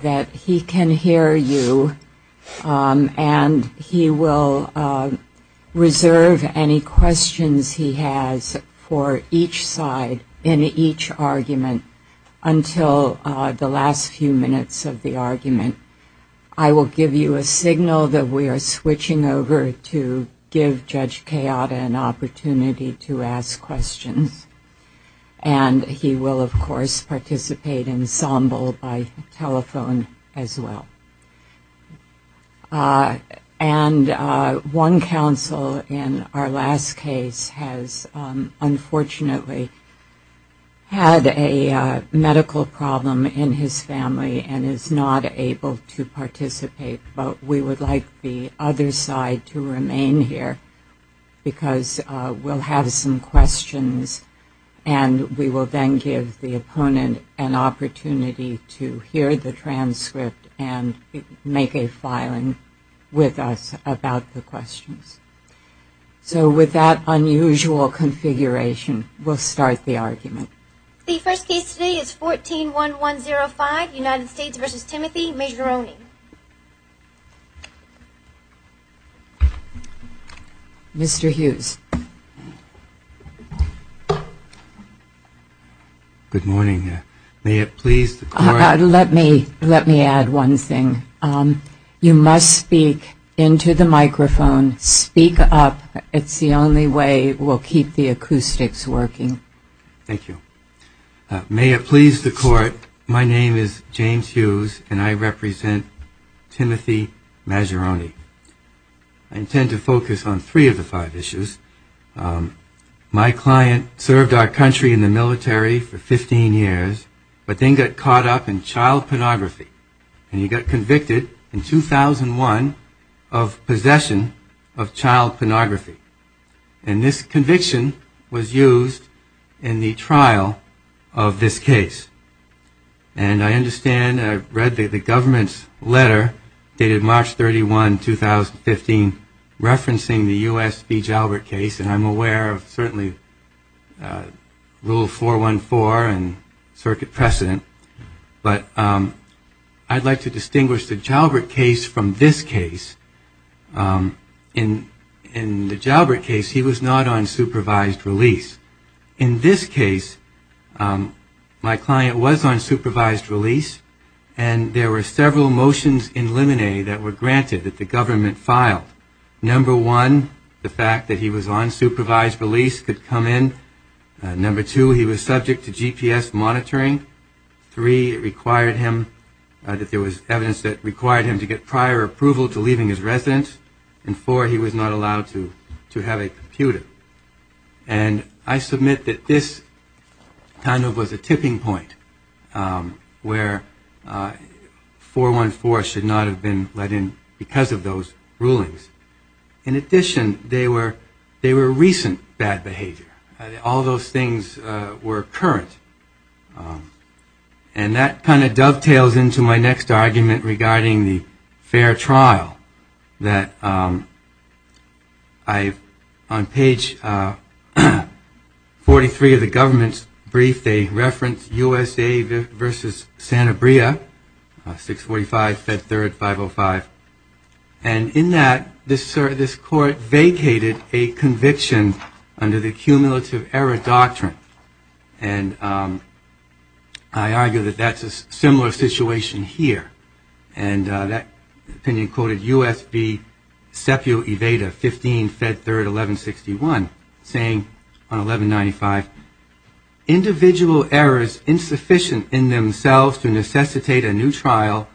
that he can hear you and he will reserve any questions he has for each side in each argument until the last few minutes of the argument. I will give you a signal that we are switching over to give Judge Kayada an opportunity to ask questions. And he will, of course, participate in samba by telephone as well. And one counsel in our last case has unfortunately had a medical problem in his family and is not able to participate, but we would like the other side to remain here because we'll have some questions and we will then give the opponent an opportunity to hear the transcript and make a filing with us about the questions. So with that unusual configuration we'll start the argument. The first case today is 14-1105, United States v. Timothy Majeroni. Mr. Hughes. Good morning. May it please the Court that I present the case. May it please the Court. Let me add one thing. You must speak into the microphone. Speak up. It's the only way we'll keep the acoustics working. Thank you. May it please the Court. My name is James Hughes and I represent Timothy Majeroni. I intend to focus on three of the five issues. My client served our country in the military for 15 years, but then he got caught up in child pornography and he got convicted in 2001 of possession of child pornography. And this conviction was used in the trial of this case. And I understand I read the government's letter dated March 31, 2015, referencing the U.S. Beech Albert case. And I'm aware of certainly Rule 414 and circuit precedent. But I'd like to distinguish the Jalbert case from this case. In the Jalbert case he was not on supervised release. In this case my client was on supervised release and there were several motions in limine that were granted that the government filed. Number one, the fact that he was on supervised release could come in. Number two, he was subject to GPS monitoring. Three, it required him that there was evidence that required him to get prior approval to leaving his residence. And four, he was not allowed to have a computer. And I submit that this kind of was a tipping point where 414 should not have been let in because of those rulings. In addition, they were recent bad behavior. All those things were current. And that kind of dovetails into my next argument regarding the fair trial that on page 43 of the government's brief they reference USA versus Santa Bria, 645, Fed Third, 505. And in that, this court vacated a conviction under the cumulative error doctrine. And I argue that that's a similar situation here. And that opinion quoted U.S.B. Sepio Evada, 15, Fed Third, 1161, saying on 1195, individual errors insufficient in themselves to necessitate a new trial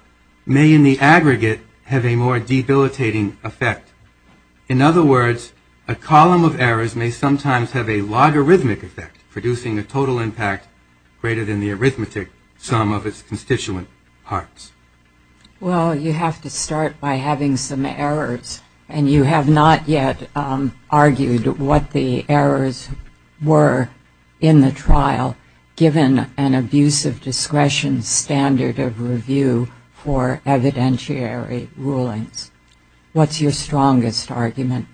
may in the aggregate have a more debilitating effect. In other words, a column of errors may sometimes have a logarithmic effect, producing a total impact greater than the arithmetic sum of its constituent parts. Well, you have to start by having some errors. And you have not yet argued what the errors were in the trial, given an abuse of discretion standard of review for evidentiary rulings. What's your strongest argument?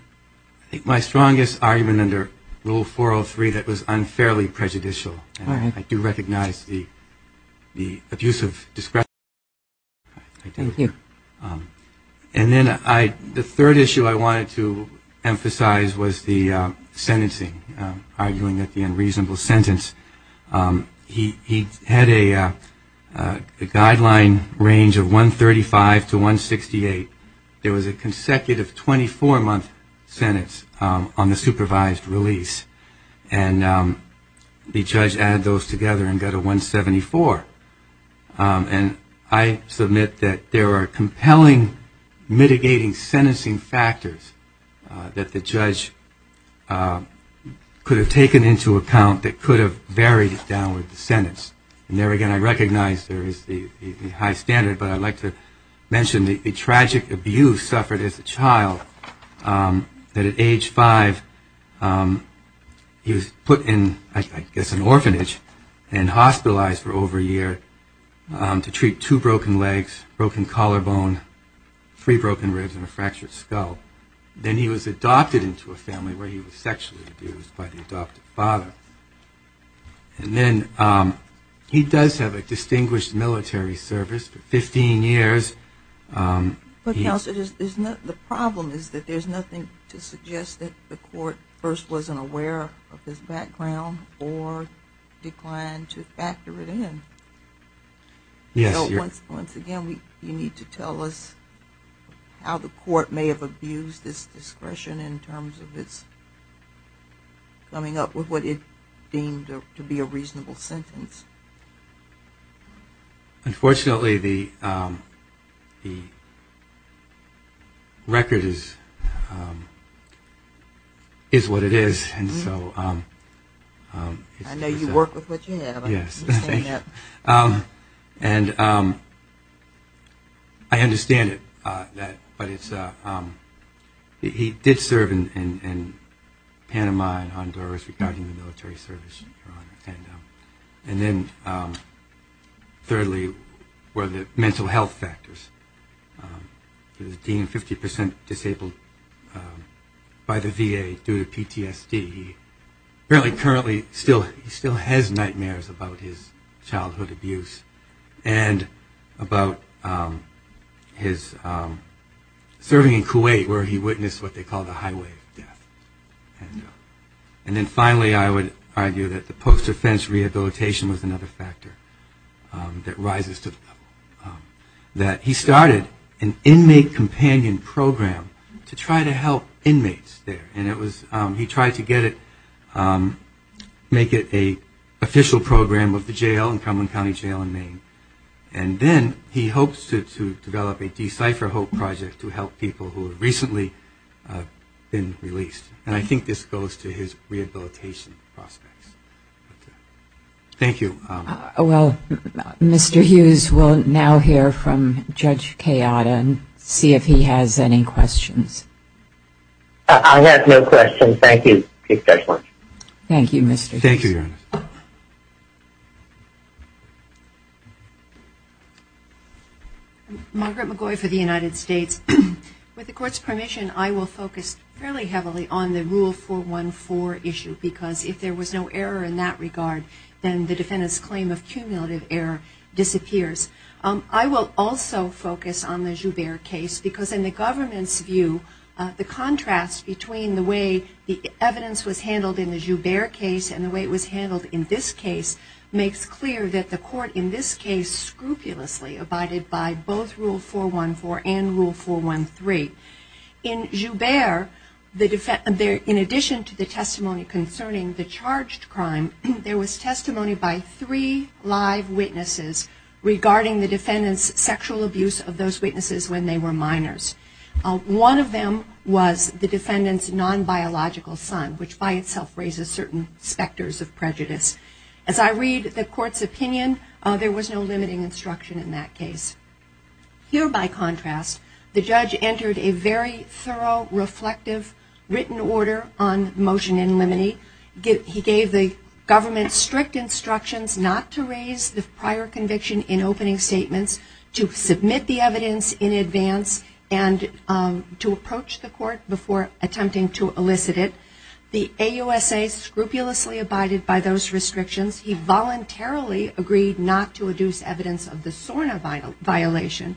My strongest argument under Rule 403 that was unfairly prejudicial. I do recognize the abuse of discretion. Thank you. Thank you. And then the third issue I wanted to emphasize was the sentencing, arguing that the unreasonable sentence. He had a guideline range of 135 to 168. There was a consecutive 24-month sentence on the supervised release. And the judge added those together and got to 174. And I submit that there are compelling mitigating sentencing factors that the judge could have taken into account that could have varied downward the sentence. And there again, I recognize there is the high standard, but I'd like to mention the tragic abuse suffered as a child, that at age five, he was put in, I guess, an orphanage and hospitalized. And he was hospitalized for over a year to treat two broken legs, broken collarbone, three broken ribs, and a fractured skull. Then he was adopted into a family where he was sexually abused by the adoptive father. And then he does have a distinguished military service for 15 years. But Counselor, the problem is that there's nothing to suggest that the court first wasn't aware of his background or declined to factor it in. Once again, you need to tell us how the court may have abused his discretion in terms of its coming up with what it deemed to be a reasonable sentence. Unfortunately, the record is what it is. And I'm not going to go into the details of the record. I know you work with what you have. Yes. I understand it. But he did serve in Panama and Honduras regarding the military service. And then thirdly, were the mental health factors. He was deemed 50 percent disabled by the VA due to PTSD. He apparently currently still has nightmares about his childhood abuse and about his serving in Kuwait where he witnessed what they call the highway of death. And then finally, I would argue that the post-offense rehabilitation was another factor that rises to the level that he started an inmate companion program to try to help inmates there. And he tried to make it an official program of the jail in Cumberland County Jail in Maine. And then he hopes to develop a Decipher Hope project to help people who have recently been released. And I think this goes to his rehabilitation prospects. Thank you. Well, Mr. Hughes, we'll now hear from Judge Kayada and see if he has any questions. I have no questions. Thank you, Judge Lange. Thank you, Mr. Hughes. Thank you, Your Honor. Margaret McGoy for the United States. With the Court's permission, I will focus fairly heavily on the Rule 414 issue because if there was no error in that regard, then the defendant's claim of cumulative error disappears. I will also focus on the Joubert case because in the government's view, the contrast between the way the evidence was handled in the Joubert case and the way it was handled in this case makes clear that the Court in this case scrupulously abided by both Rule 414 and Rule 413. In Joubert, in addition to the testimony concerning the charged crime, there was testimony by three live witnesses regarding the defendant's sexual abuse of those witnesses when they were minors. One of them was the defendant's non-biological son, which by itself raises certain specters of prejudice. As I read the Court's opinion, there was no limiting instruction in that case. Here, by contrast, the judge entered a very thorough, reflective, written order on motion in limine. He gave the government strict instructions not to raise the prior conviction in opening statements, to submit the evidence in advance, and to approach the Court before attempting to elicit it. The AUSA scrupulously abided by those restrictions. He voluntarily agreed not to adduce evidence of the SORNA violation.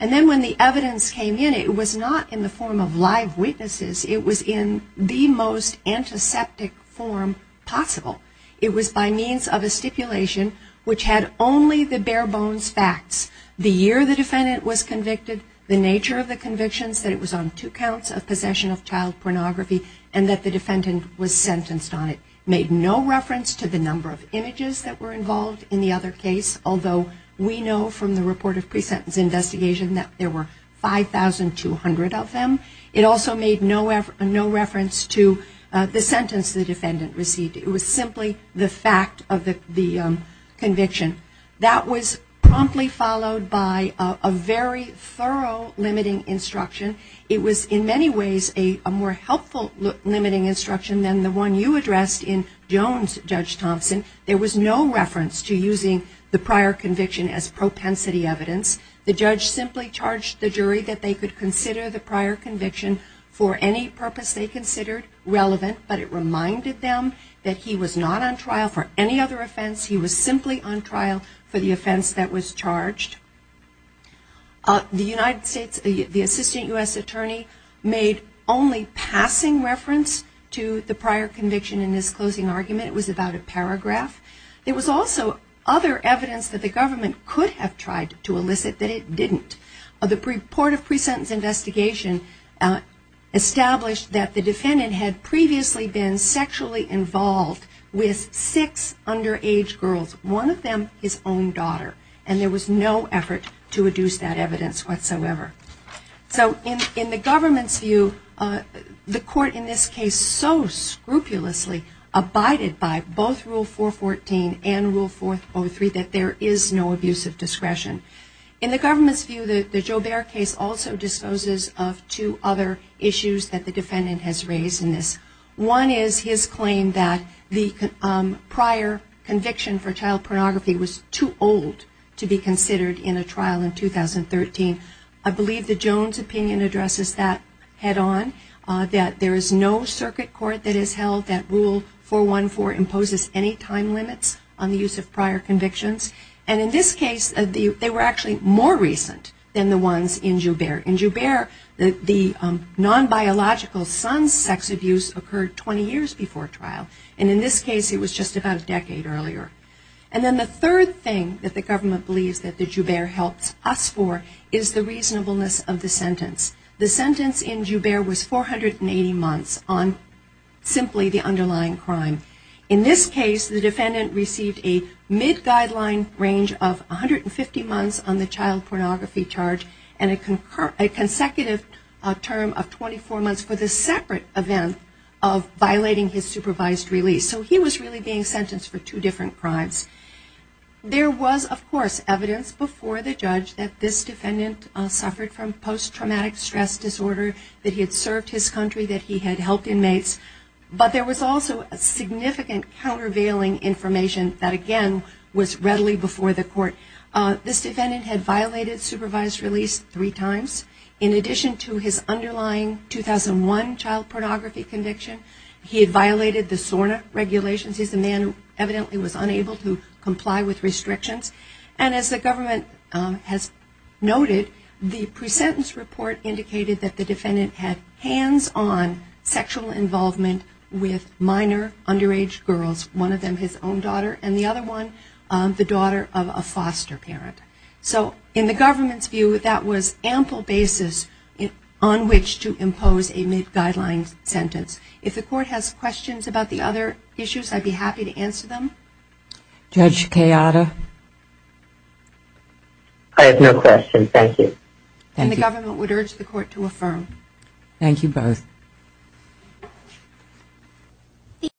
And then when the evidence came in, it was not in the form of live witnesses. It was in the most antiseptic form possible. It was by means of a stipulation which had only the bare-bones facts. The year the defendant was convicted, the nature of the convictions, that it was on two counts of possession of child pornography, and that the defendant was sentenced on it, made no reference to the number of images that were involved in the other case, although we know from the report of pre-sentence investigation that there were 5,200 of them. It also made no reference to the number of images, the sentence the defendant received. It was simply the fact of the conviction. That was promptly followed by a very thorough limiting instruction. It was in many ways a more helpful limiting instruction than the one you addressed in Jones, Judge Thompson. There was no reference to using the prior conviction as propensity evidence. The judge simply charged the jury that they could consider the prior conviction for any purpose they considered relevant, but it reminded them that he was not on trial for any other offense. He was simply on trial for the offense that was charged. The United States, the Assistant U.S. Attorney made only passing reference to the prior conviction in this closing argument. It was about a paragraph. It was also other evidence that the government could have tried to elicit that it didn't. The report of pre-sentence investigation established that the defendant had previously been sexually involved with six underage girls, one of them his own daughter, and there was no effort to reduce that evidence whatsoever. So in the government's view, the court in this case so scrupulously abided by both Rule 414 and Rule 403 that there is no abuse of discretion. In the government's view, the Joubert case also disposes of two other issues that the defendant has raised in this. One is his claim that the prior conviction for child pornography was too old to be considered in a trial in 2013. I believe the Jones opinion addresses that head on, that there is no circuit court that has held that Rule 414 imposes any time limits on the use of prior conviction. And in this case, they were actually more recent than the ones in Joubert. In Joubert, the non-biological son's sex abuse occurred 20 years before trial. And in this case, it was just about a decade earlier. And then the third thing that the government believes that the Joubert helps us for is the reasonableness of the sentence. The sentence in Joubert was 480 months on simply the underlying crime. In this case, the defendant received a mid-guideline range of 150 months on the child pornography charge and a consecutive term of 24 months for the separate event of violating his supervised release. So he was really being sentenced for two different crimes. There was, of course, evidence before the judge that this defendant suffered from post-traumatic stress disorder, that he had served his country, that he had helped inmates. But there was also significant countervailing information that, again, was readily before the court. This defendant had violated supervised release three times. In addition to his underlying 2001 child pornography conviction, he had violated the SORNA regulations. He's a man who evidently was unable to comply with restrictions. And as the government has noted, the pre-sentence report indicated that the defendant had hands-on sexual involvement with minor underage girls. One of them has been his own daughter. And the other one, the daughter of a foster parent. So in the government's view, that was ample basis on which to impose a mid-guideline sentence. If the court has questions about the other issues, I'd be happy to answer them. Judge Kayada? I have no questions. Thank you.